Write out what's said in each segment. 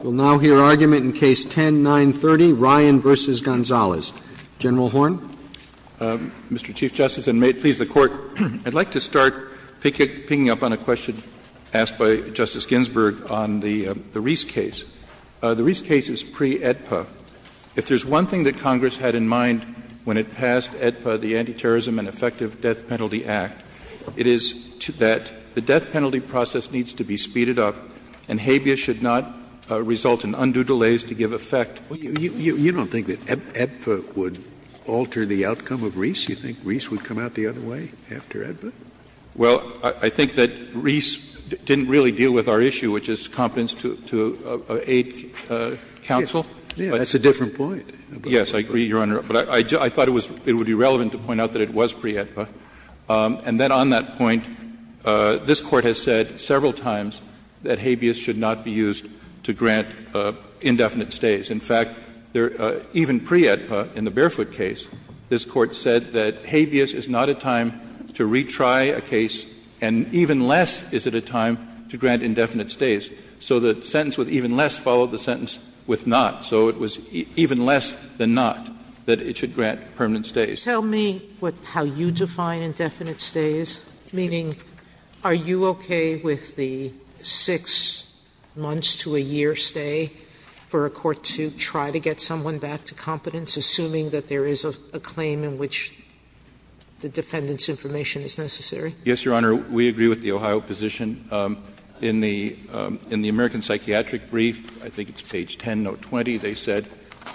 We'll now hear argument in Case 10-930, Ryan v. Gonzales. General Horne, Mr. Chief Justice, and may it please the Court, I'd like to start picking up on a question asked by Justice Ginsburg on the Reese case. The Reese case is pre-AEDPA. If there's one thing that Congress had in mind when it passed AEDPA, the Anti-Terrorism and Effective Death Penalty Act, it is that the death penalty process needs to be speeded up, and habeas should not result in undue delays to give effect. Scalia You don't think that AEDPA would alter the outcome of Reese? You think Reese would come out the other way after AEDPA? General Horne Well, I think that Reese didn't really deal with our issue, which is competence to aid counsel. Scalia Yeah, that's a different point. General Horne Yes, I agree, Your Honor. But I thought it would be relevant to point out that it was pre-AEDPA. And then on that point, this Court has said several times that habeas should not be used to grant indefinite stays. In fact, even pre-AEDPA in the Barefoot case, this Court said that habeas is not a time to retry a case, and even less is it a time to grant indefinite stays. So the sentence with even less followed the sentence with not. So it was even less than not that it should grant permanent stays. Sotomayor Tell me how you define indefinite stays, meaning, are you okay with the 6 months to a year stay for a court to try to get someone back to competence, assuming that there is a claim in which the defendant's information is necessary? General Horne Yes, Your Honor. We agree with the Ohio position. In the American Psychiatric Brief, I think it's page 10, note 20, they said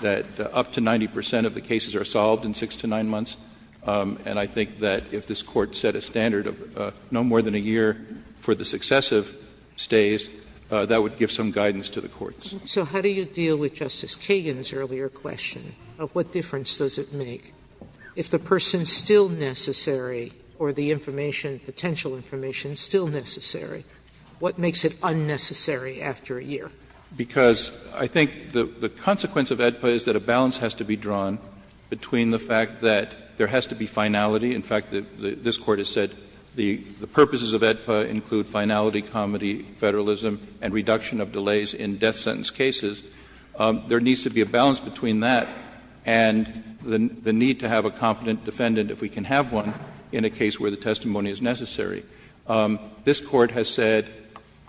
that up to 90 percent of the cases are solved in 6 to 9 months. And I think that if this Court set a standard of no more than a year for the successive stays, that would give some guidance to the courts. Sotomayor So how do you deal with Justice Kagan's earlier question of what difference does it make if the person is still necessary or the information, potential information is still necessary, what makes it unnecessary after a year? General Horne Because I think the consequence of AEDPA is that a balance has to be drawn between the fact that there has to be finality. In fact, this Court has said the purposes of AEDPA include finality, comity, federalism, and reduction of delays in death sentence cases. There needs to be a balance between that and the need to have a competent defendant if we can have one in a case where the testimony is necessary. This Court has said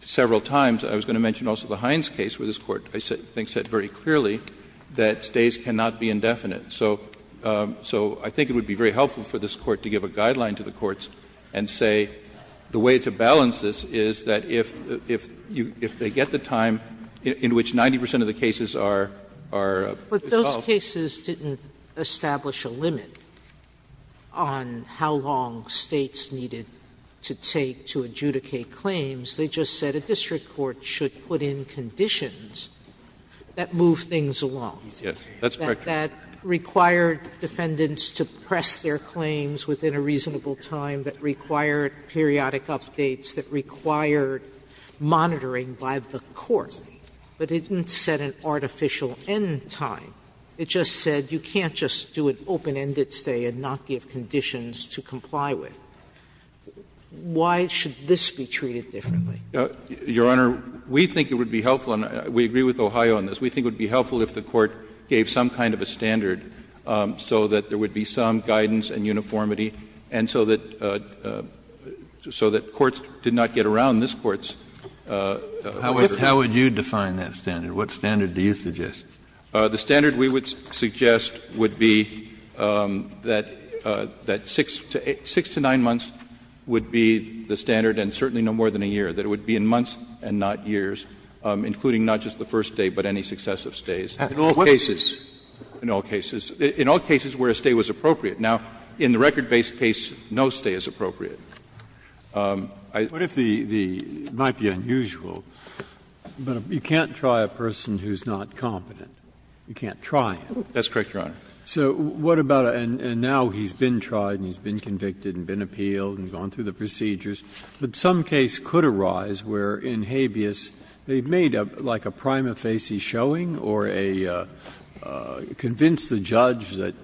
several times, I was going to mention also the Hines case where this Court, I think, said very clearly that stays cannot be indefinite. So I think it would be very helpful for this Court to give a guideline to the courts and say the way to balance this is that if they get the time in which 90 percent of the cases are solved. Sotomayor Those cases didn't establish a limit on how long States needed to take to adjudicate claims. They just said a district court should put in conditions that move things along. That required defendants to press their claims within a reasonable time, that required periodic updates, that required monitoring by the court, but it didn't set an artificial end time. It just said you can't just do an open-ended stay and not give conditions to comply with. Why should this be treated differently? Verrilli, Your Honor, we think it would be helpful, and we agree with Ohio on this, we think it would be helpful if the Court gave some kind of a standard so that there would be some guidance and uniformity, and so that courts did not get around this Court's efforts. Kennedy How would you define that standard? What standard do you suggest? Verrilli, Your Honor, the standard we would suggest would be that 6 to 9 months would be the standard, and certainly no more than a year, that it would be in months and not years, including not just the first day, but any successive stays. In all cases where a stay was appropriate. Now, in the record-based case, no stay is appropriate. Breyer What if the — it might be unusual, but you can't try a person who's not competent. You can't try him. Verrilli, Your Honor. Breyer So what about a — and now he's been tried and he's been convicted and been appealed and gone through the procedures. But some case could arise where in habeas, they've made like a prima facie showing or a — convinced the judge that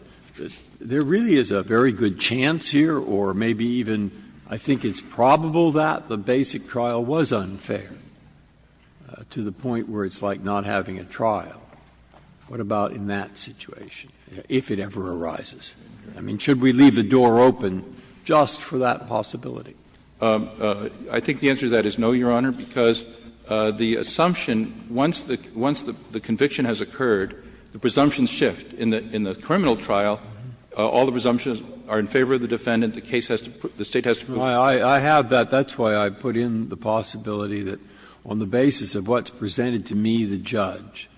there really is a very good chance here or maybe even I think it's probable that the basic trial was unfair to the point where it's like not having a trial. What about in that situation, if it ever arises? I mean, should we leave the door open just for that possibility? Verrilli, Your Honor, I think the answer to that is no, Your Honor, because the assumption — once the conviction has occurred, the presumptions shift. In the criminal trial, all the presumptions are in favor of the defendant. The case has to — the State has to prove it. Breyer I have that. That's why I put in the possibility that on the basis of what's presented to me, the judge,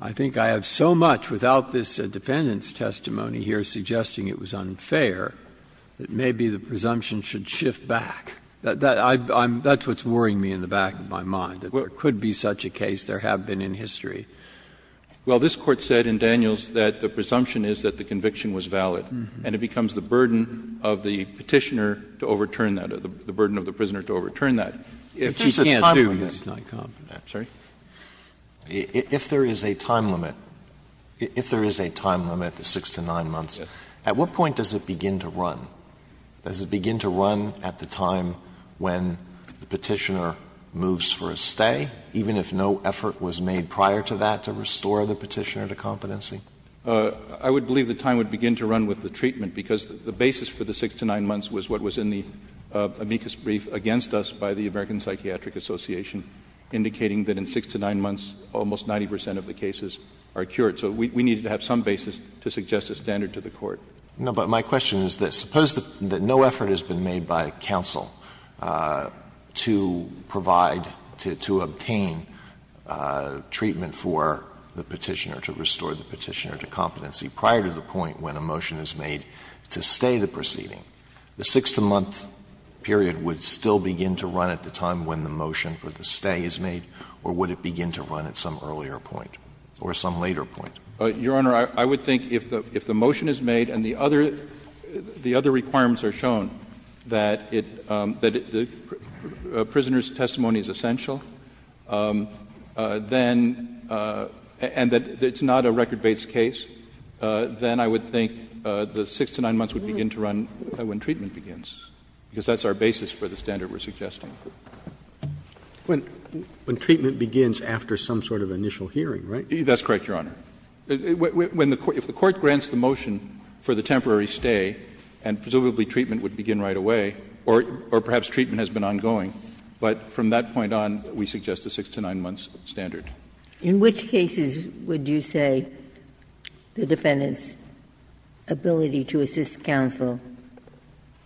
I think I have so much without this defendant's testimony here suggesting it was unfair, that maybe the presumption should shift back. That's what's worrying me in the back of my mind, that there could be such a case. There have been in history. Verrilli, Your Honor, well, this Court said in Daniels that the presumption is that the conviction was valid, and it becomes the burden of the Petitioner to overturn that, the burden of the prisoner to overturn that. If she can't do it. Sotomayor If there's a time limit, the 6 to 9 months, at what point does it begin to run? Does it begin to run at the time when the Petitioner moves for a stay, even if no effort was made prior to that to restore the Petitioner to competency? Verrilli, Your Honor, I would believe the time would begin to run with the treatment, because the basis for the 6 to 9 months was what was in the amicus brief against us by the American Psychiatric Association, indicating that in 6 to 9 months, almost 90 percent of the cases are cured. So we needed to have some basis to suggest a standard to the Court. Alito No, but my question is this. Suppose that no effort has been made by counsel to provide, to obtain treatment for the Petitioner, to restore the Petitioner to competency prior to the point when a motion is made to stay the proceeding, the 6-to-month period would still begin to run at the time when the motion for the stay is made, or would it begin to run at some earlier point or some later point? Verrilli, Your Honor, I would think if the motion is made and the other requirements are shown, that the prisoner's testimony is essential, then, and that it's not a record-based case, then I would think the 6 to 9 months would begin to run when treatment begins, because that's our basis for the standard we're suggesting. Roberts, When treatment begins after some sort of initial hearing, right? Verrilli, That's correct, Your Honor. If the Court grants the motion for the temporary stay, and presumably treatment would begin right away, or perhaps treatment has been ongoing, but from that point on, we suggest a 6 to 9 months standard. Ginsburg, In which cases would you say the defendant's ability to assist counsel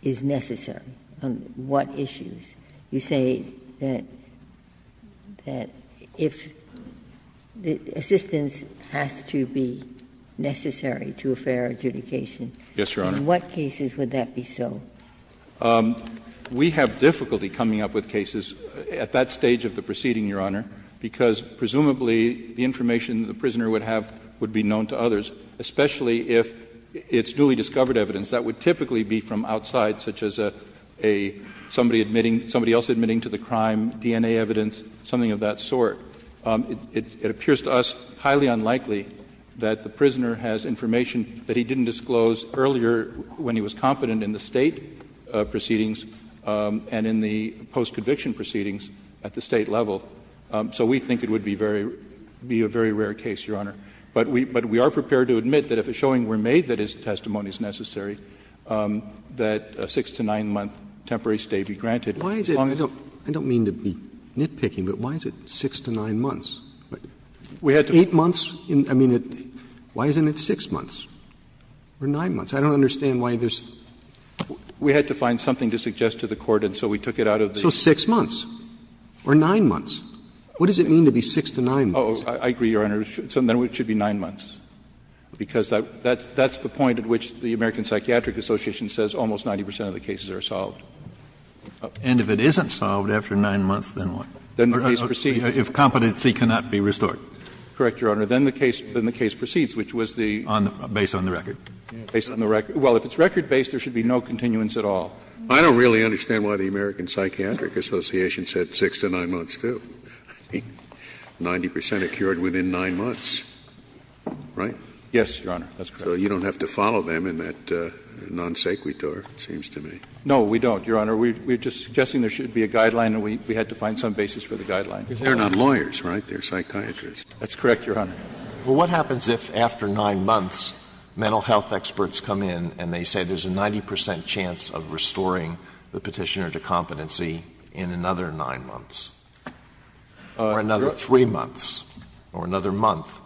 is necessary? On what issues? You say that if assistance has to be necessary to a fair adjudication. Verrilli, Yes, Your Honor. Ginsburg, In what cases would that be so? Verrilli, We have difficulty coming up with cases at that stage of the proceeding, Your Honor, because presumably the information the prisoner would have would be known to others, especially if it's duly discovered evidence. That would typically be from outside, such as somebody admitting to the crime, DNA evidence, something of that sort. It appears to us highly unlikely that the prisoner has information that he didn't disclose earlier when he was competent in the State proceedings and in the post-conviction proceedings at the State level. So we think it would be a very rare case, Your Honor. But we are prepared to admit that if a showing were made that his testimony is necessary, that a 6- to 9-month temporary stay be granted, as long as it's not too late. Roberts I don't mean to be nitpicking, but why is it 6- to 9-months? 8 months, I mean, why isn't it 6 months or 9 months? I don't understand why there's. Verrilli, We had to find something to suggest to the Court, and so we took it out of the. Roberts So 6 months or 9 months? What does it mean to be 6- to 9-months? Verrilli, I agree, Your Honor. It should be 9 months, because that's the point at which the American Psychiatric Association says almost 90 percent of the cases are solved. Kennedy And if it isn't solved after 9 months, then what? Verrilli, If competency cannot be restored. Verrilli, Correct, Your Honor. Then the case proceeds, which was the? Kennedy Based on the record. Verrilli, Based on the record. Well, if it's record-based, there should be no continuance at all. Scalia I don't really understand why the American Psychiatric Association said 6- to 9-months, too. I mean, 90 percent are cured within 9 months, right? Verrilli, Yes, Your Honor. That's correct. I don't think that's a non sequitur, it seems to me. Verrilli, No, we don't, Your Honor. We're just suggesting there should be a guideline, and we had to find some basis for the guideline. Scalia They're not lawyers, right? They're psychiatrists. Verrilli, That's correct, Your Honor. Alito Well, what happens if, after 9 months, mental health experts come in and they say there's a 90 percent chance of restoring the Petitioner to competency in another 9 months, or another 3 months, or another month?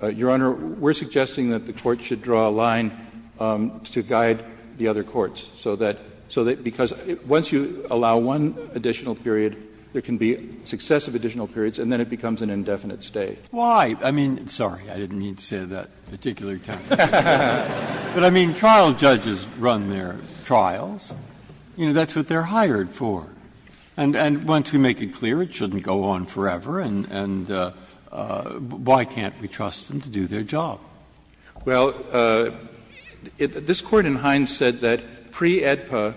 Verrilli, Your Honor, we're suggesting that the Court should draw a line. To guide the other courts, so that, because once you allow one additional period, there can be successive additional periods, and then it becomes an indefinite stay. Breyer Why? I mean, sorry, I didn't mean to say that particular time. But I mean, trial judges run their trials. You know, that's what they're hired for. And once we make it clear it shouldn't go on forever, and why can't we trust them to do their job? Verrilli, Well, this Court in Hines said that pre-AEDPA,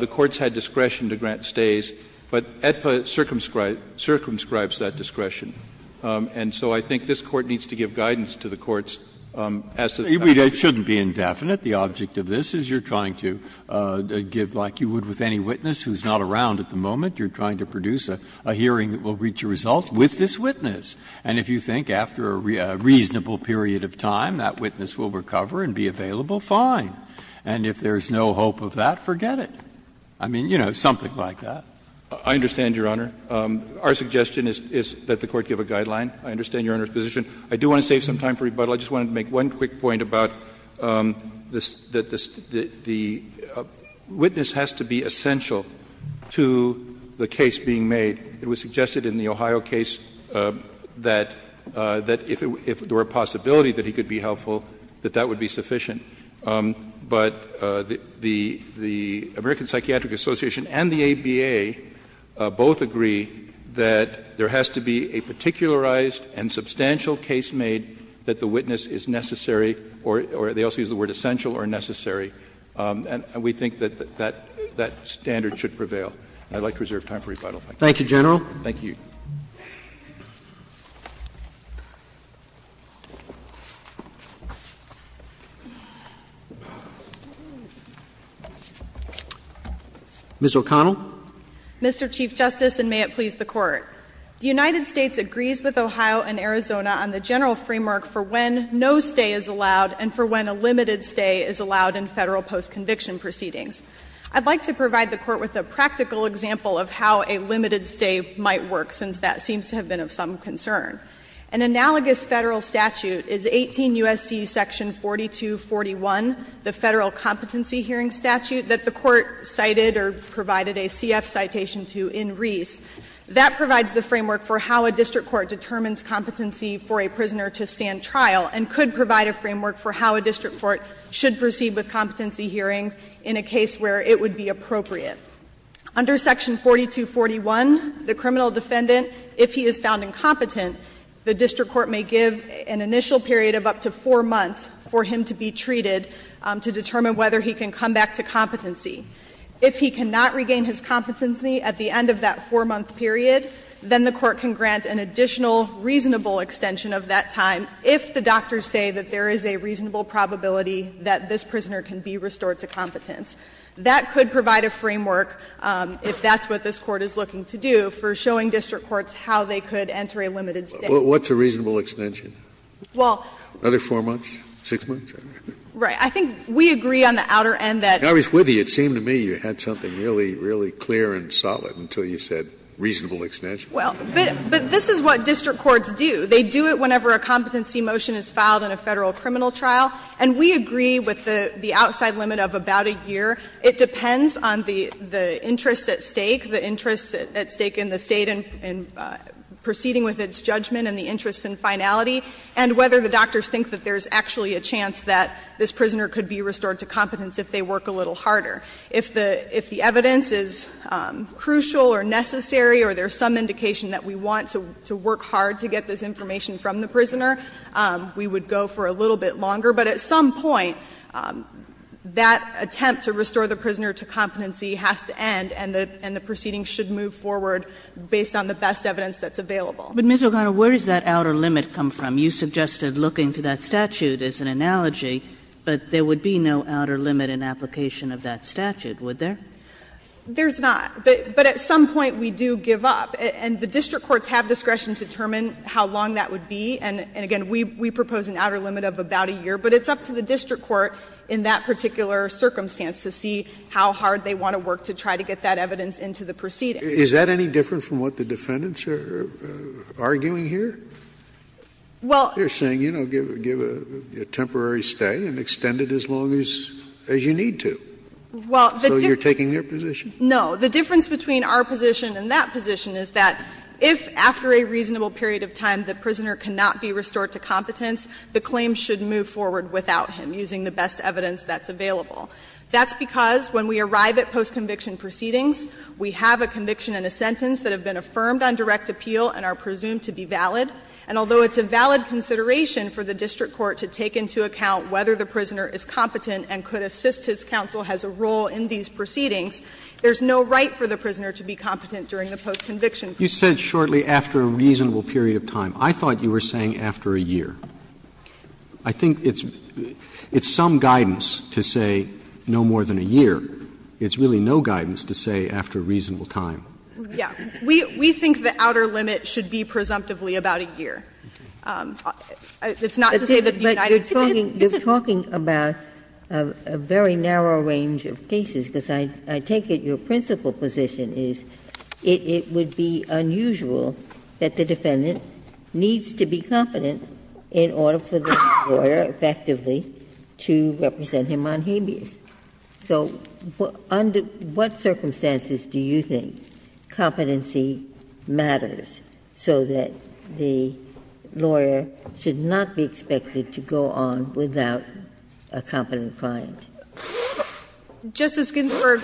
the courts had discretion to grant stays, but AEDPA circumscribes that discretion. And so I think this Court needs to give guidance to the courts as to how to do that. Breyer It shouldn't be indefinite. The object of this is you're trying to give, like you would with any witness who's not around at the moment, you're trying to produce a hearing that will reach a result with this witness. And if you think after a reasonable period of time that witness will recover and be available, fine. And if there's no hope of that, forget it. I mean, you know, something like that. Verrilli, I understand, Your Honor. Our suggestion is that the Court give a guideline. I understand Your Honor's position. I do want to save some time for rebuttal. I just want to make one quick point about the witness has to be essential to the case being made. It was suggested in the Ohio case that if there were a possibility that he could be helpful, that that would be sufficient. But the American Psychiatric Association and the ABA both agree that there has to be a particularized and substantial case made that the witness is necessary, or they also use the word essential or necessary. And we think that that standard should prevail. I'd like to reserve time for rebuttal. Thank you, General. Thank you. Ms. O'Connell. Mr. Chief Justice, and may it please the Court. The United States agrees with Ohio and Arizona on the general framework for when no stay is allowed and for when a limited stay is allowed in Federal post-conviction proceedings. I'd like to provide the Court with a practical example of how a limited stay might work, since that seems to have been of some concern. An analogous Federal statute is 18 U.S.C. section 4241, the Federal competency hearing statute that the Court cited or provided a CF citation to in Reese. That provides the framework for how a district court determines competency for a prisoner to stand trial and could provide a framework for how a district court should proceed with competency hearing in a case where it would be appropriate. Under section 4241, the criminal defendant, if he is found incompetent, the district court may give an initial period of up to four months for him to be treated to determine whether he can come back to competency. If he cannot regain his competency at the end of that four-month period, then the court can grant an additional reasonable extension of that time if the doctors say that there is a reasonable probability that this prisoner can be restored to competence. That could provide a framework, if that's what this Court is looking to do, for showing district courts how they could enter a limited stay. Scalia What's a reasonable extension? Another four months? Six months? Right. I think we agree on the outer end that Scalia I was with you. It seemed to me you had something really, really clear and solid until you said reasonable extension. O'Connell Well, but this is what district courts do. They do it whenever a competency motion is filed in a Federal criminal trial. And we agree with the outside limit of about a year. It depends on the interest at stake, the interest at stake in the State in proceeding with its judgment and the interest in finality, and whether the doctors think that there's actually a chance that this prisoner could be restored to competence if they work a little harder. If the evidence is crucial or necessary or there's some indication that we want to work hard to get this information from the prisoner, we would go for a little bit longer. But at some point, that attempt to restore the prisoner to competency has to end and the proceeding should move forward based on the best evidence that's available. Kagan But, Ms. O'Connell, where does that outer limit come from? You suggested looking to that statute as an analogy, but there would be no outer limit in application of that statute, would there? O'Connell There's not. But at some point we do give up. And the district courts have discretion to determine how long that would be. And, again, we propose an outer limit of about a year. But it's up to the district court in that particular circumstance to see how hard they want to work to try to get that evidence into the proceeding. Scalia Is that any different from what the defendants are arguing here? O'Connell Well — Scalia They're saying, you know, give a temporary stay and extend it as long as you need to. So you're taking their position? O'Connell No. The difference between our position and that position is that if, after a reasonable period of time, the prisoner cannot be restored to competence, the claim should move forward without him, using the best evidence that's available. That's because when we arrive at post-conviction proceedings, we have a conviction and a sentence that have been affirmed on direct appeal and are presumed to be valid. And although it's a valid consideration for the district court to take into account whether the prisoner is competent and could assist his counsel has a role in these proceedings, there's no right for the prisoner to be competent during the post-conviction proceedings. Roberts You said shortly, after a reasonable period of time. I thought you were saying after a year. I think it's some guidance to say no more than a year. It's really no guidance to say after a reasonable time. O'Connell Yeah. We think the outer limit should be presumptively about a year. It's not to say that the United States isn't. Ginsburg But you're talking about a very narrow range of cases, because I take it your principal position is it would be unusual that the defendant needs to be competent in order for the lawyer, effectively, to represent him on habeas. So under what circumstances do you think competency matters so that the lawyer should not be expected to go on without a competent client? O'Connell Justice Ginsburg,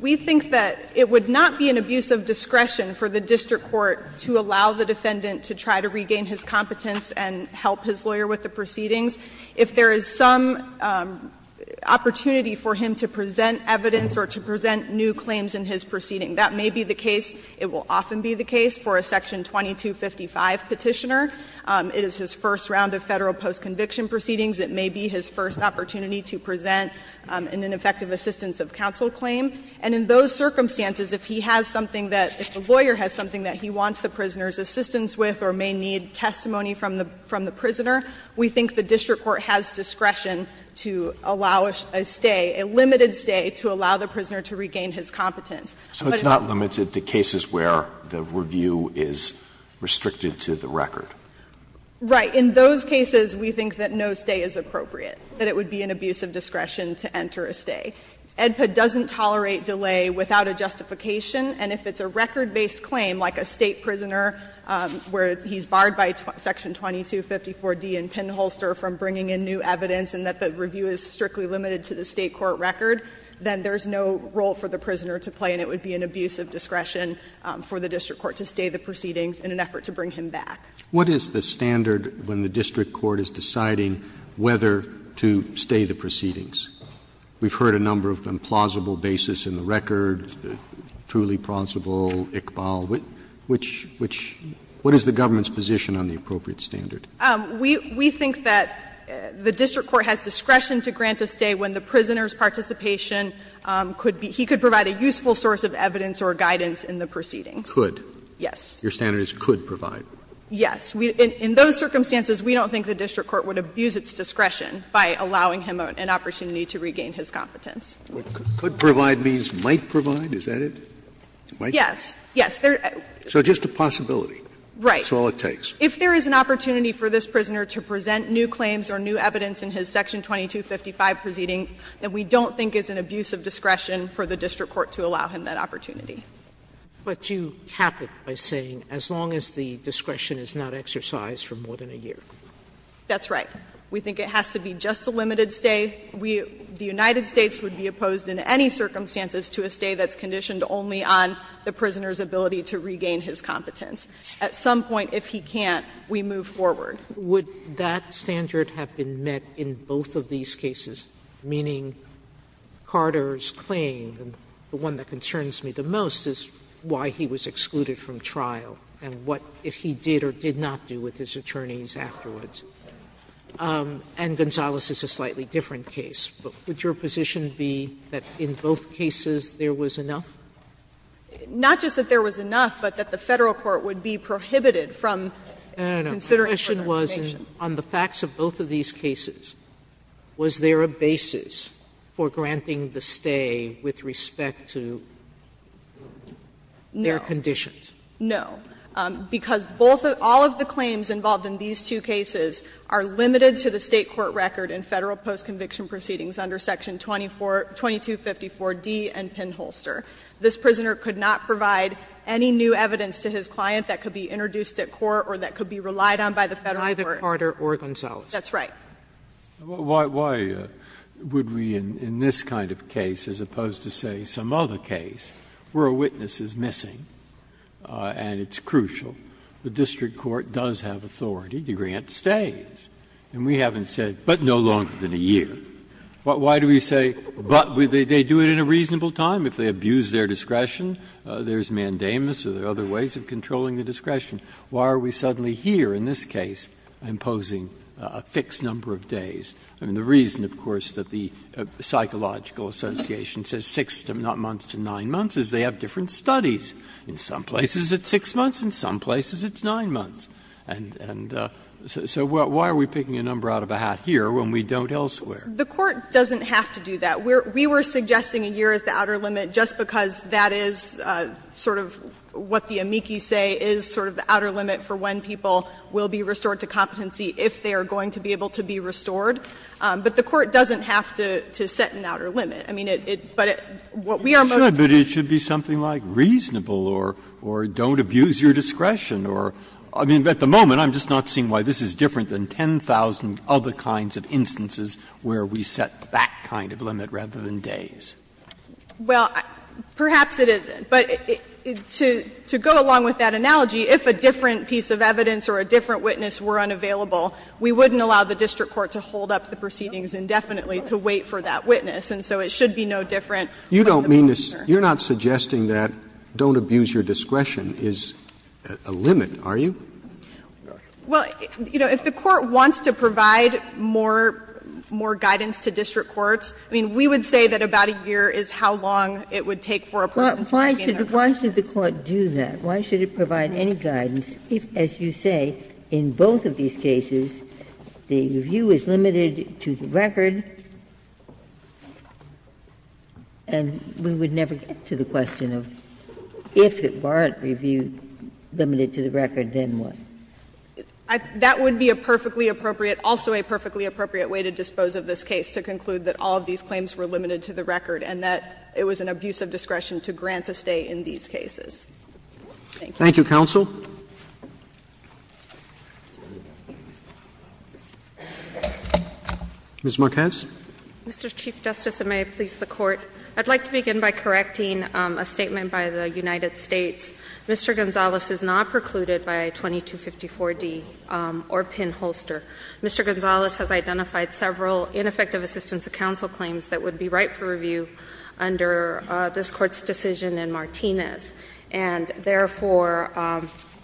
we think that it would not be an abuse of discretion for the district court to allow the defendant to try to regain his competence and help his lawyer with the proceedings if there is some opportunity for him to present evidence or to present new claims in his proceeding. That may be the case. It will often be the case for a section 2255 petitioner. It is his first round of Federal post-conviction proceedings. It may be his first opportunity to present an ineffective assistance of counsel claim. And in those circumstances, if he has something that — if the lawyer has something that he wants the prisoner's assistance with or may need testimony from the prisoner, we think the district court has discretion to allow a stay, a limited stay, to allow the prisoner to regain his competence. But it's not limited to cases where the review is restricted to the record. Right. In those cases, we think that no stay is appropriate, that it would be an abuse of discretion to enter a stay. AEDPA doesn't tolerate delay without a justification. And if it's a record-based claim, like a State prisoner where he's barred by section 2254D in Pinholster from bringing in new evidence and that the review is strictly limited to the State court record, then there's no role for the prisoner to play, and it would be an abuse of discretion for the district court to stay the proceedings in an effort to bring him back. What is the standard when the district court is deciding whether to stay the proceedings? We've heard a number of implausible basis in the record, truly plausible, Iqbal. Which — which — what is the government's position on the appropriate standard? We — we think that the district court has discretion to grant a stay when the prisoner's participation could be — he could provide a useful source of evidence or guidance in the proceedings. Could? Yes. Your standard is could provide? Yes. In those circumstances, we don't think the district court would abuse its discretion by allowing him an opportunity to regain his competence. Could provide means might provide? Is that it? Might? Yes. Yes. So just a possibility. Right. That's all it takes. If there is an opportunity for this prisoner to present new claims or new evidence in his section 2255 proceeding, then we don't think it's an abuse of discretion for the district court to allow him that opportunity. But you cap it by saying as long as the discretion is not exercised for more than a year. That's right. We think it has to be just a limited stay. We — the United States would be opposed in any circumstances to a stay that's conditioned only on the prisoner's ability to regain his competence. At some point, if he can't, we move forward. Would that standard have been met in both of these cases, meaning Carter's claim, and the one that concerns me the most is why he was excluded from trial and what if he did or did not do with his attorneys afterwards. And Gonzales is a slightly different case. But would your position be that in both cases there was enough? Not just that there was enough, but that the Federal court would be prohibited from considering further information. No, no, no. My question was, on the facts of both of these cases, was there a basis for granting the stay with respect to their conditions? No. Because both of — all of the claims involved in these two cases are limited to the State court record and Federal post-conviction proceedings under Section 2254d and Penn-Holster. This prisoner could not provide any new evidence to his client that could be introduced at court or that could be relied on by the Federal court. Either Carter or Gonzales. That's right. Breyer. Why would we in this kind of case, as opposed to, say, some other case, where a witness is missing and it's crucial? The district court does have authority to grant stays, and we haven't said, but no longer than a year. Why do we say, but they do it in a reasonable time if they abuse their discretion? There's mandamus or there are other ways of controlling the discretion. Why are we suddenly here in this case imposing a fixed number of days? I mean, the reason, of course, that the Psychological Association says 6, not months to 9 months, is they have different studies. In some places it's 6 months, in some places it's 9 months. And so why are we picking a number out of a hat here when we don't elsewhere? The Court doesn't have to do that. We were suggesting a year as the outer limit just because that is sort of what the limit for when people will be restored to competency, if they are going to be able to be restored. But the Court doesn't have to set an outer limit. I mean, it, but what we are most concerned about is that it should be something like reasonable or don't abuse your discretion or, I mean, at the moment I'm just not seeing why this is different than 10,000 other kinds of instances where we set that kind of limit rather than days. Well, perhaps it isn't. But to go along with that analogy, if a different piece of evidence or a different witness were unavailable, we wouldn't allow the district court to hold up the proceedings indefinitely to wait for that witness. And so it should be no different. You don't mean to say, you're not suggesting that don't abuse your discretion is a limit, are you? Well, you know, if the Court wants to provide more, more guidance to district courts, I mean, we would say that about a year is how long it would take for a person to be in there. Ginsburg. But why should the Court do that? Why should it provide any guidance if, as you say, in both of these cases the review is limited to the record, and we would never get to the question of if it weren't reviewed, limited to the record, then what? That would be a perfectly appropriate, also a perfectly appropriate way to dispose of this case, to conclude that all of these claims were limited to the record and that it was an abuse of discretion to grant a stay in these cases. Thank you. Thank you, counsel. Ms. Marquez. Mr. Chief Justice, and may it please the Court. I'd like to begin by correcting a statement by the United States. Mr. Gonzales is not precluded by 2254d or pinholster. Mr. Gonzales has identified several ineffective assistance of counsel claims that would be right for review under this Court's decision in Martinez, and therefore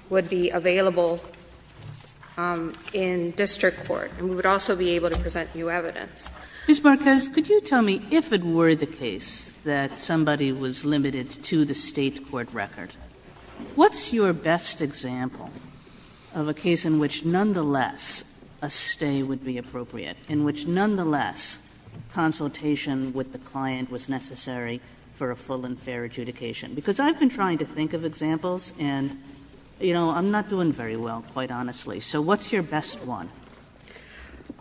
would be available in district court, and we would also be able to present new evidence. Ms. Marquez, could you tell me, if it were the case that somebody was limited to the State court record, what's your best example of a case in which, nonetheless, a stay would be appropriate, in which, nonetheless, consultation with the client was necessary for a full and fair adjudication? Because I've been trying to think of examples, and, you know, I'm not doing very well, quite honestly. So what's your best one?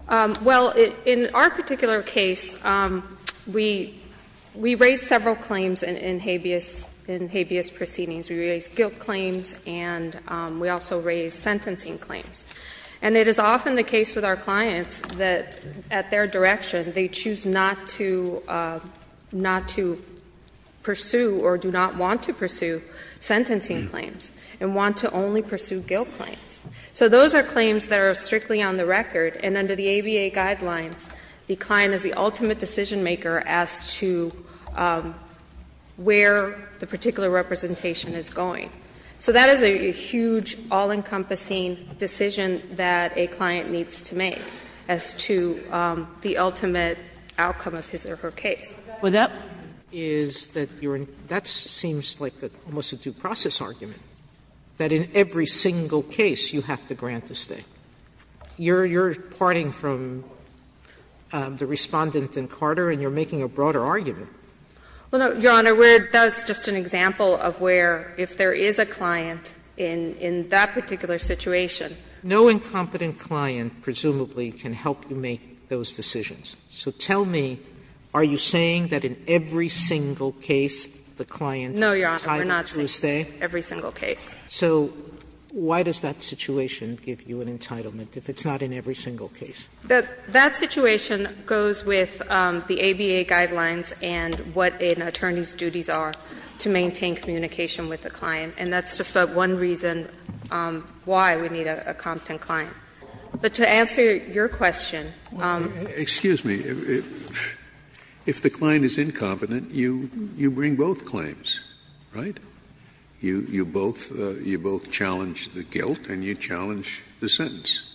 Well, in our particular case, we raised several claims in habeas proceedings. We raised guilt claims, and we also raised sentencing claims. And it is often the case with our clients that, at their direction, they choose not to pursue or do not want to pursue sentencing claims, and want to only pursue guilt claims. So those are claims that are strictly on the record, and under the ABA guidelines, the client is the ultimate decision-maker as to where the particular representation is going. So that is a huge, all-encompassing decision that a client needs to make as to the ultimate outcome of his or her case. Sotomayor, that seems like almost a due process argument, that in every single case you have to grant a stay. You're parting from the Respondent and Carter, and you're making a broader argument. Well, no, Your Honor, that's just an example of where, if there is a client in that particular situation. No incompetent client, presumably, can help you make those decisions. So tell me, are you saying that in every single case the client entitled to a stay? No, Your Honor, we're not saying that in every single case. So why does that situation give you an entitlement if it's not in every single case? That situation goes with the ABA guidelines and what an attorney's duties are to maintain communication with the client, and that's just about one reason why we need a competent client. But to answer your question. Excuse me. If the client is incompetent, you bring both claims, right? You both challenge the guilt and you challenge the sentence.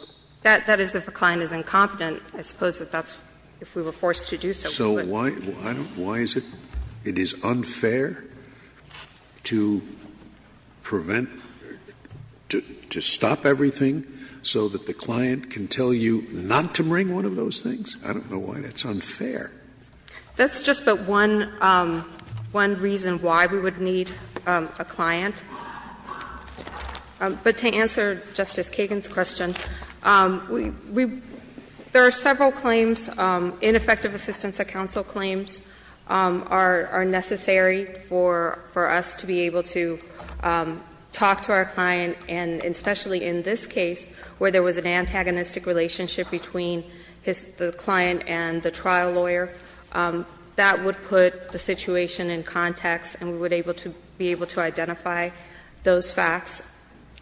That is if a client is incompetent. I suppose that's if we were forced to do so. So why is it unfair to prevent, to stop everything so that the client can tell you not to bring one of those things? I don't know why. That's unfair. That's just about one reason why we would need a client. But to answer Justice Kagan's question, there are several claims, ineffective assistance at counsel claims, are necessary for us to be able to talk to our client, and especially in this case where there was an antagonistic relationship between the client and the trial lawyer, that would put the situation in context and we would be able to identify those facts.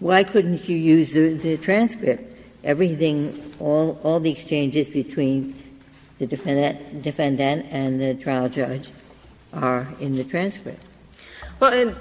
Why couldn't you use the transcript? Everything, all the exchanges between the defendant and the trial judge are in the transcript. Well,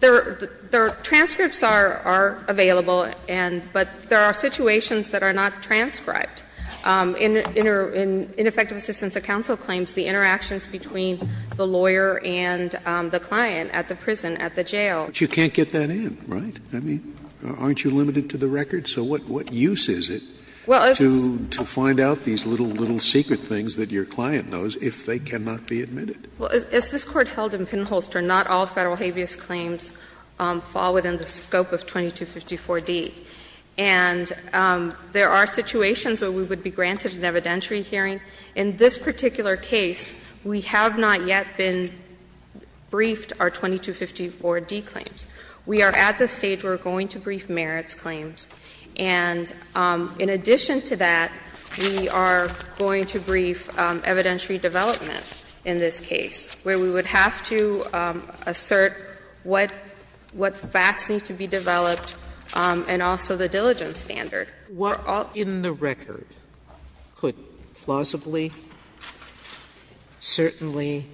the transcripts are available, but there are situations that are not transcribed. In ineffective assistance at counsel claims, the interactions between the lawyer and the client at the prison, at the jail. But you can't get that in, right? I mean, aren't you limited to the record? So what use is it to find out these little, little secret things that your client knows if they cannot be admitted? Well, as this Court held in Pinholster, not all Federal habeas claims fall within the scope of 2254d. And there are situations where we would be granted an evidentiary hearing. In this particular case, we have not yet been briefed our 2254d claims. We are at the stage where we're going to brief merits claims. And in addition to that, we are going to brief evidentiary development in this case, where we would have to assert what facts need to be developed and also the diligence standard. Sotomayor, what in the record could plausibly, certainly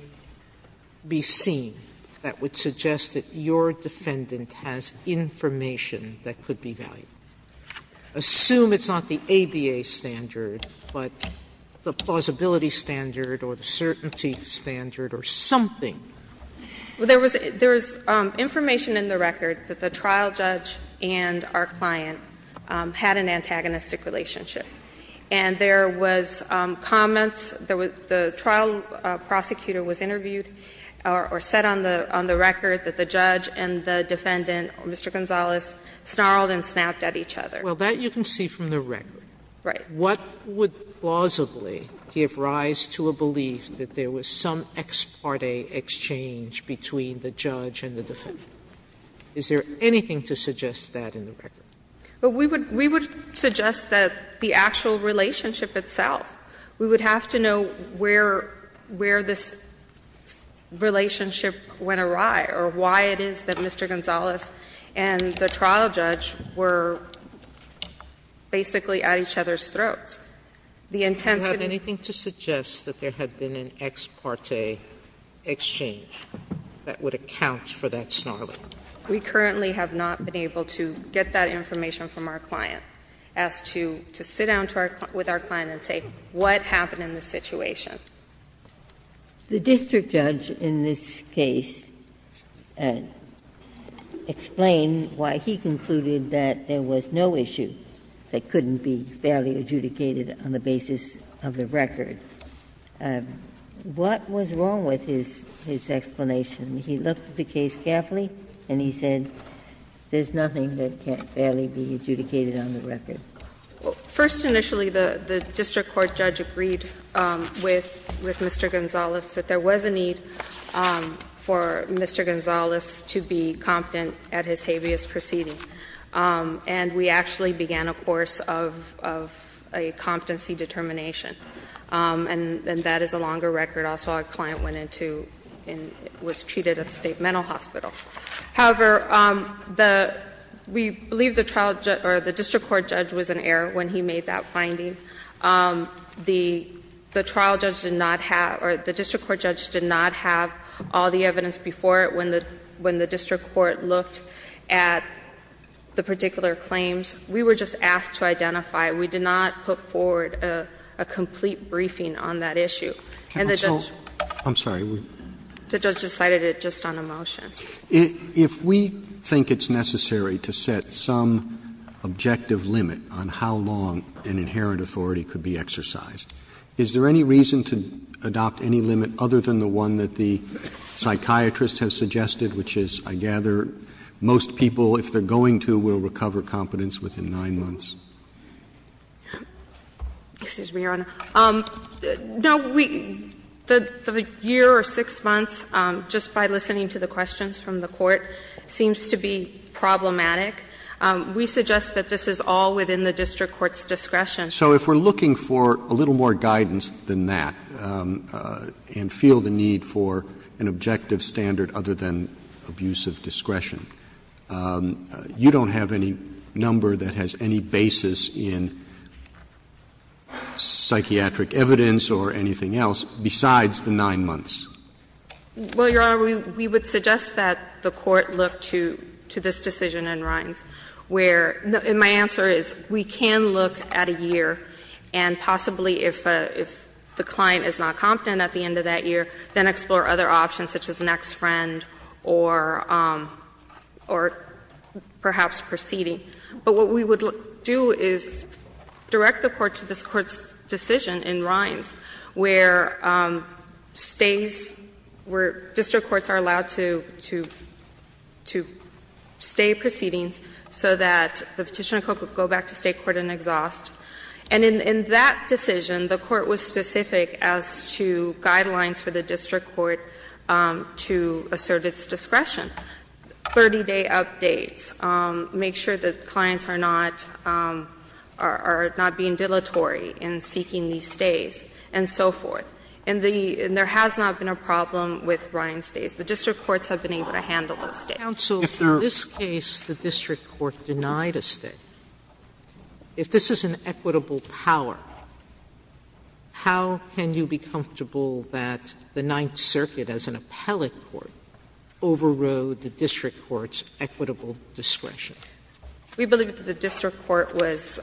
be seen that would suggest that your defendant has information that could be valid? Assume it's not the ABA standard, but the plausibility standard or the certainty standard or something. Well, there was information in the record that the trial judge and our client had an antagonistic relationship. And there was comments, the trial prosecutor was interviewed or said on the record that the judge and the defendant, Mr. Gonzales, snarled and snapped at each other. Well, that you can see from the record. Right. What would plausibly give rise to a belief that there was some ex parte exchange between the judge and the defendant? Is there anything to suggest that in the record? Well, we would suggest that the actual relationship itself, we would have to know where this relationship went awry or why it is that Mr. Gonzales and the trial judge were basically at each other's throats. The intent of the attempts to snarl and snap at each other was that there was an ex parte exchange that would account for that snarling. We currently have not been able to get that information from our client, as to sit down with our client and say what happened in this situation. Ginsburg. The district judge in this case explained why he concluded that there was no issue that couldn't be fairly adjudicated on the basis of the record. What was wrong with his explanation? He looked at the case carefully and he said, there's nothing that can't fairly be adjudicated on the record. First, initially, the district court judge agreed with Mr. Gonzales that there was a need for Mr. Gonzales to be competent at his habeas proceeding. And we actually began a course of a competency determination. And that is a longer record. Also, our client went into and was treated at the state mental hospital. However, we believe the district court judge was in error when he made that finding. The trial judge did not have, or the district court judge did not have all the evidence before it when the district court looked at the particular claims. We were just asked to identify. We did not put forward a complete briefing on that issue. And the judge decided it just on a motion. Roberts If we think it's necessary to set some objective limit on how long an inherent authority could be exercised, is there any reason to adopt any limit other than the one that the psychiatrists have suggested, which is, I gather, most people, if they're going to, will recover competence within 9 months? Excuse me, Your Honor. No, we the year or 6 months, just by listening to the questions from the court, seems to be problematic. We suggest that this is all within the district court's discretion. Roberts So if we're looking for a little more guidance than that and feel the need for an objective standard other than abuse of discretion, you don't have any number that has any basis in psychiatric evidence or anything else besides the 9 months? Well, Your Honor, we would suggest that the court look to this decision in Rines, where my answer is we can look at a year and possibly if the client is not competent at the end of that year, then explore other options such as an ex-friend or perhaps proceeding. But what we would do is direct the court to this court's decision in Rines, where stays, where district courts are allowed to stay proceedings so that the Petitioner could go back to state court and exhaust. And in that decision, the court was specific as to guidelines for the district court to assert its discretion. 30-day updates, make sure that clients are not, are not being dilatory in seeking these stays and so forth. And the, and there has not been a problem with Rines stays. The district courts have been able to handle those stays. Sotomayor Counsel, in this case, the district court denied a stay. If this is an equitable power, how can you be comfortable that the Ninth Circuit as an appellate court overrode the district court's equitable discretion? We believe that the district court was,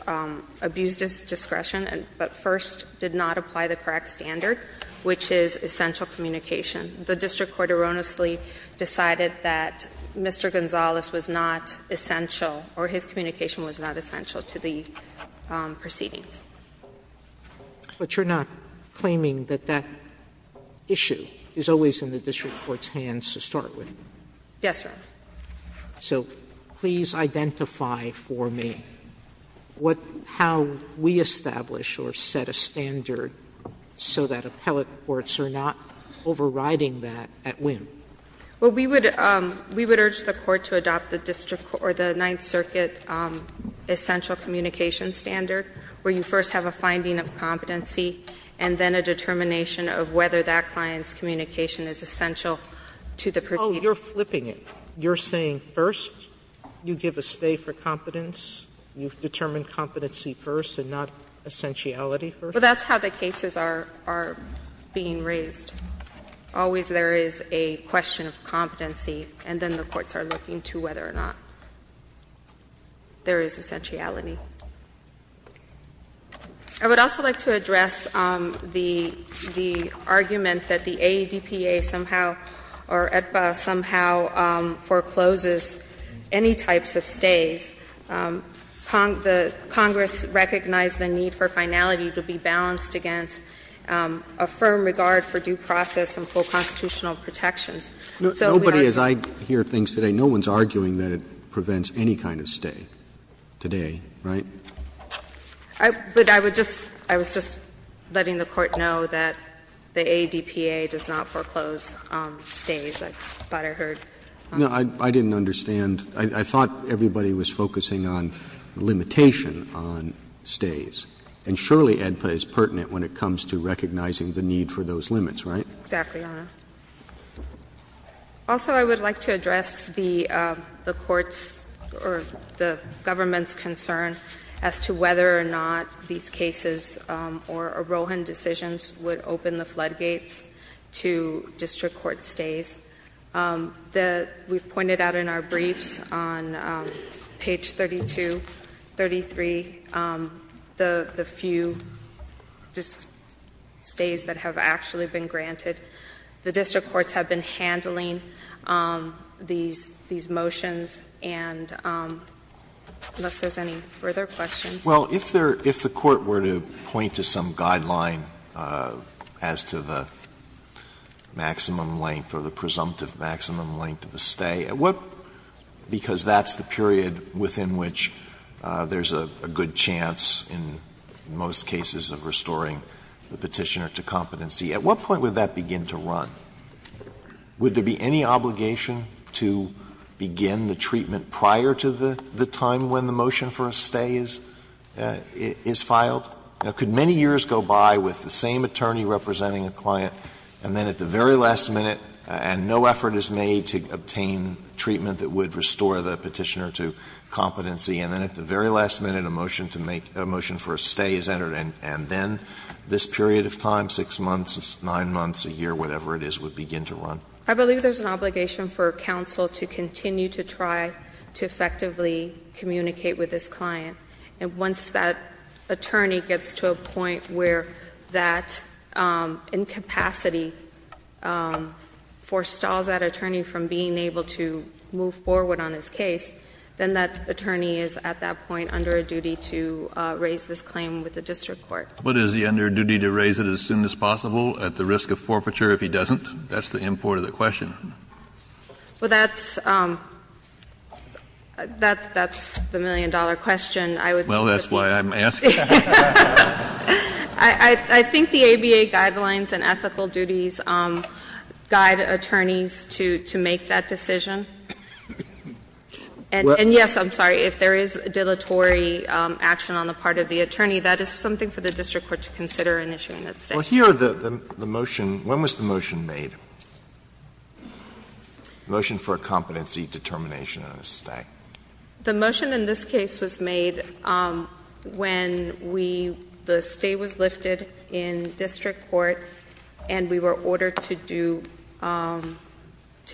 abused its discretion, but first did not apply the correct standard, which is essential communication. The district court erroneously decided that Mr. Gonzales was not essential or his communication was not essential to the proceedings. Sotomayor But you're not claiming that that issue is always in the district court's hands to start with? Yes, Your Honor. So please identify for me what, how we establish or set a standard so that appellate courts are not overriding that at whim. Well, we would, we would urge the court to adopt the district court or the Ninth Circuit as an appellate court to first have a finding of competency and then a determination of whether that client's communication is essential to the proceedings. Oh, you're flipping it. You're saying first, you give a stay for competence, you've determined competency first and not essentiality first? Well, that's how the cases are, are being raised. Always there is a question of competency, and then the courts are looking to whether or not there is essentiality. I would also like to address the argument that the AEDPA somehow or AEDPA somehow forecloses any types of stays. Congress recognized the need for finality to be balanced against a firm regard for due process and full constitutional protections. So we are going to do that. Nobody, as I hear things today, no one is arguing that it prevents any kind of stay today, right? I would, I would just, I was just letting the court know that the AEDPA does not foreclose stays. I thought I heard. No, I didn't understand. I thought everybody was focusing on limitation on stays. And surely AEDPA is pertinent when it comes to recognizing the need for those limits, right? Exactly, Your Honor. Also, I would like to address the, the court's or the government's concern as to whether or not these cases or Rohan decisions would open the floodgates to district court stays. The, we've pointed out in our briefs on page 32, 33, the, the few just stays that have actually been granted. The district courts have been handling these, these motions and unless there's any further questions. Well, if there, if the court were to point to some guideline as to the maximum length or the presumptive maximum length of the stay, what, because that's the period within which there's a good chance in most cases of restoring the Petitioner to competency. At what point would that begin to run? Would there be any obligation to begin the treatment prior to the, the time when the motion for a stay is, is filed? You know, could many years go by with the same attorney representing a client and then at the very last minute, and no effort is made to obtain treatment that would restore the Petitioner to competency, and then at the very last minute a motion to make, a motion for a stay is entered and, and then this period of time, 6 months, 9 months, a year, whatever it is, would begin to run? I believe there's an obligation for counsel to continue to try to effectively communicate with this client. And once that attorney gets to a point where that incapacity forestalls that attorney from being able to move forward on his case, then that attorney is at that point under a duty to raise this claim with the district court. Kennedy, what is the underduty to raise it as soon as possible at the risk of forfeiture if he doesn't? That's the import of the question. Well, that's, that's the million-dollar question. I would think that's why I'm asking. I think the ABA guidelines and ethical duties guide attorneys to, to make that decision. And yes, I'm sorry, if there is dilatory action on the part of the attorney, that is something for the district court to consider in issuing that stay. Well, here the, the motion, when was the motion made, the motion for a competency determination on a stay? The motion in this case was made when we, the stay was lifted in district court and we were ordered to do, to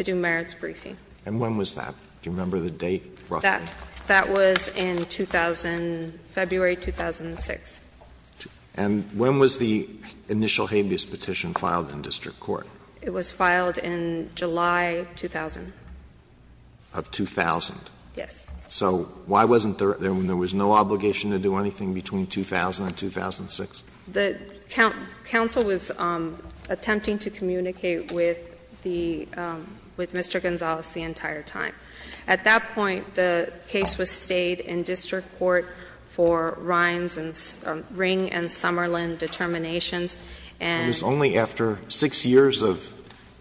do merits briefing. And when was that? Do you remember the date roughly? That, that was in 2000, February 2006. And when was the initial habeas petition filed in district court? It was filed in July 2000. Of 2000? Yes. So why wasn't there, there was no obligation to do anything between 2000 and 2006? The counsel was attempting to communicate with the, with Mr. Gonzales the entire time. At that point, the case was stayed in district court for Rines and Ring and Summerlin determinations. And It was only after six years of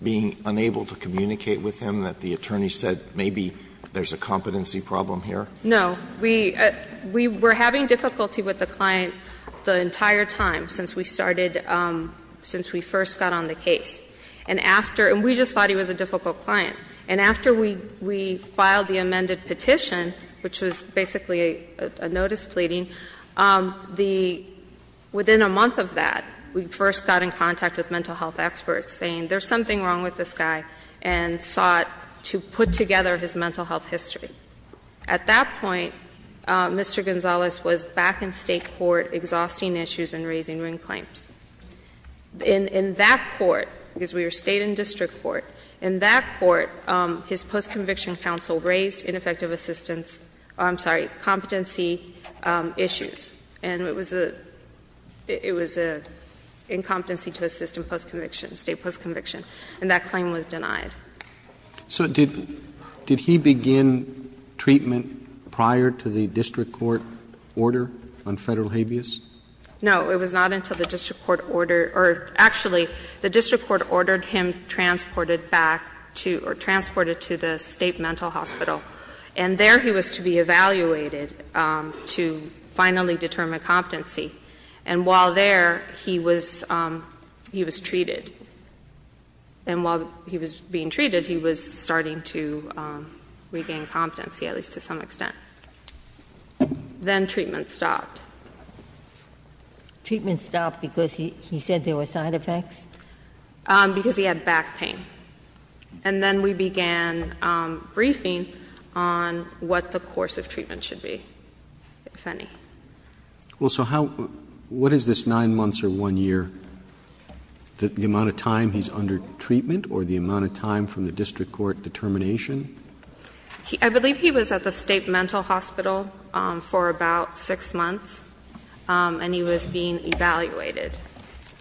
being unable to communicate with him that the attorney said maybe there's a competency problem here? No. We, we were having difficulty with the client the entire time since we started, since we first got on the case. And after, and we just thought he was a difficult client. And after we, we filed the amended petition, which was basically a, a notice pleading, the, within a month of that, we first got in contact with mental health experts saying there's something wrong with this guy and sought to put together his mental health history. At that point, Mr. Gonzales was back in state court exhausting issues and raising Ring claims. In, in that court, because we were stayed in district court, in that court, the district court, his post-conviction counsel raised ineffective assistance, I'm sorry, competency issues. And it was a, it was a incompetency to assist in post-conviction, state post-conviction. And that claim was denied. So did, did he begin treatment prior to the district court order on federal habeas? No. It was not until the district court order, or actually, the district court ordered that he be brought back to, or transported to the state mental hospital. And there he was to be evaluated to finally determine competency. And while there, he was, he was treated. And while he was being treated, he was starting to regain competency, at least to some extent. Then treatment stopped. Treatment stopped because he, he said there were side effects? Because he had back pain. And then we began briefing on what the course of treatment should be, if any. Well, so how, what is this 9 months or 1 year, the amount of time he's under treatment or the amount of time from the district court determination? I believe he was at the state mental hospital for about 6 months. And he was being evaluated.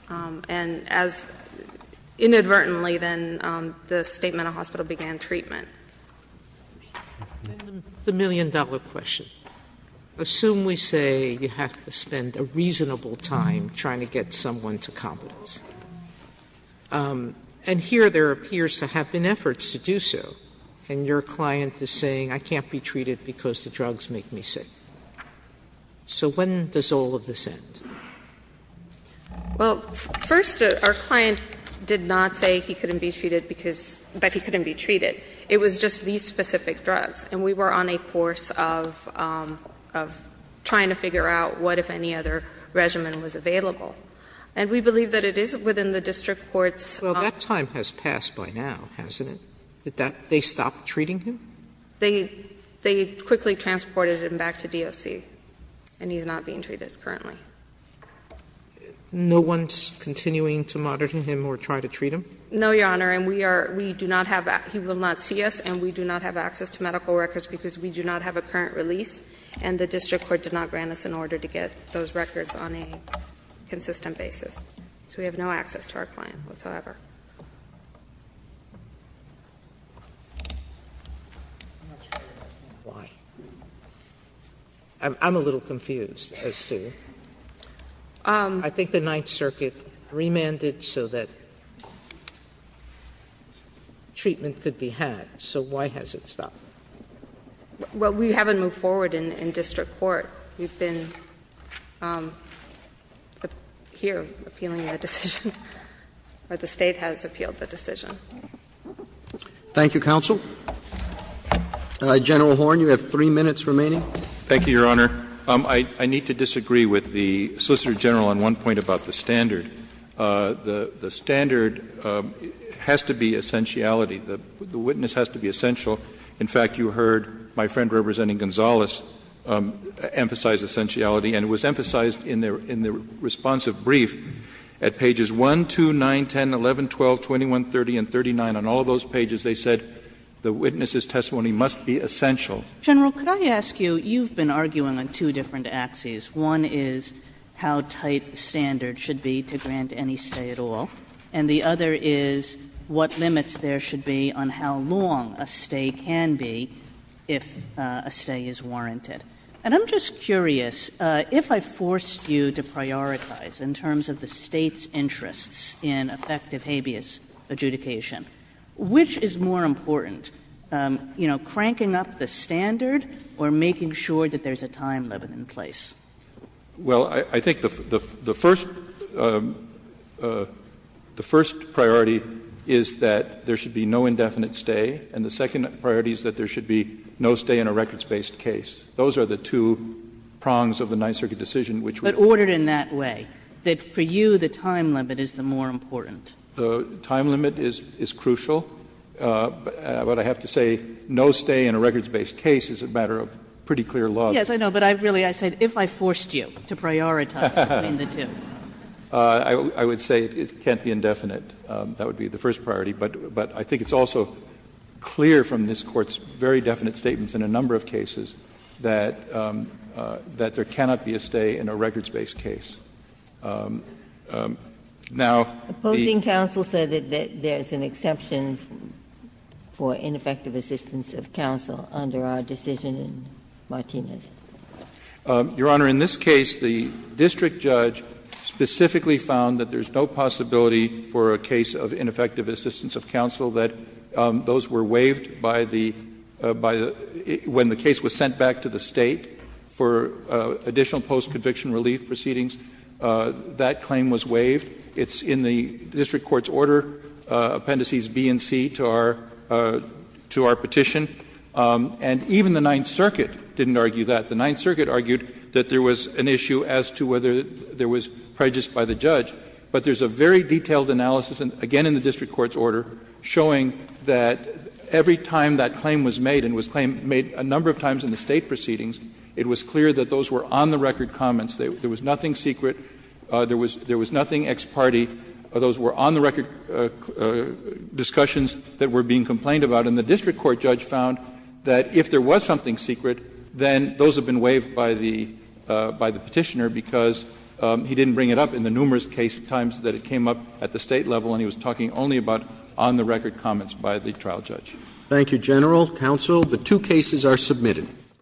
And as, inadvertently then, the state mental hospital began treatment. Sotomayor And the million dollar question. Assume we say you have to spend a reasonable time trying to get someone to competence. And here there appears to have been efforts to do so. And your client is saying, I can't be treated because the drugs make me sick. So when does all of this end? Well, first, our client did not say he couldn't be treated because, that he couldn't be treated. It was just these specific drugs. And we were on a course of, of trying to figure out what if any other regimen was available. And we believe that it is within the district court's. Well, that time has passed by now, hasn't it? Did that, they stopped treating him? They, they quickly transported him back to DOC. And he's not being treated currently. No one's continuing to monitor him or try to treat him? No, Your Honor. And we are, we do not have, he will not see us. And we do not have access to medical records because we do not have a current release. And the district court did not grant us an order to get those records on a consistent basis. So we have no access to our client whatsoever. I'm not sure why. I'm, I'm a little confused as to. I think the Ninth Circuit remanded so that treatment could be had. So why has it stopped? Well, we haven't moved forward in, in district court. We've been here appealing the decision, or the State has appealed the decision. Thank you, counsel. General Horne, you have three minutes remaining. Thank you, Your Honor. I, I need to disagree with the Solicitor General on one point about the standard. The, the standard has to be essentiality. The, the witness has to be essential. In fact, you heard my friend representing Gonzales emphasize essentiality. And it was emphasized in their, in their responsive brief at pages 1, 2, 9, 10, 11, 12, 21, 30, and 39. On all those pages, they said the witness's testimony must be essential. General, could I ask you, you've been arguing on two different axes. One is how tight the standard should be to grant any stay at all. And the other is what limits there should be on how long a stay can be if a stay is warranted. And I'm just curious, if I forced you to prioritize in terms of the State's interests in effective habeas adjudication, which is more important? You know, cranking up the standard or making sure that there's a time limit in place? Well, I, I think the, the, the first, the first priority is that there should be no indefinite stay, and the second priority is that there should be no stay in a records-based case. Those are the two prongs of the Ninth Circuit decision, which would- But ordered in that way, that for you the time limit is the more important? The time limit is, is crucial. But I have to say no stay in a records-based case is a matter of pretty clear law. Yes, I know, but I really, I said, if I forced you to prioritize between the two. I would say it can't be indefinite. That would be the first priority. But, but I think it's also clear from this Court's very definite statements in a number of cases that, that there cannot be a stay in a records-based case. Now, the- Opposing counsel said that there's an exception for ineffective assistance of counsel under our decision in Martinez. Your Honor, in this case, the district judge specifically found that there's no possibility for a case of ineffective assistance of counsel, that those were waived by the, by the, when the case was sent back to the State for additional post-conviction relief proceedings, that claim was waived. It's in the district court's order, Appendices B and C to our, to our petition. And even the Ninth Circuit didn't argue that. The Ninth Circuit argued that there was an issue as to whether there was prejudice by the judge. But there's a very detailed analysis, again in the district court's order, showing that every time that claim was made, and was made a number of times in the State for additional post-conviction relief proceedings, it was clear that those were on-the-record comments, there was nothing secret, there was nothing ex parte, those were on-the-record discussions that were being complained about. And the district court judge found that if there was something secret, then those have been waived by the, by the Petitioner because he didn't bring it up in the numerous case times that it came up at the State level and he was talking only about on-the-record comments by the trial judge. Thank you, General, Counsel. The two cases are submitted.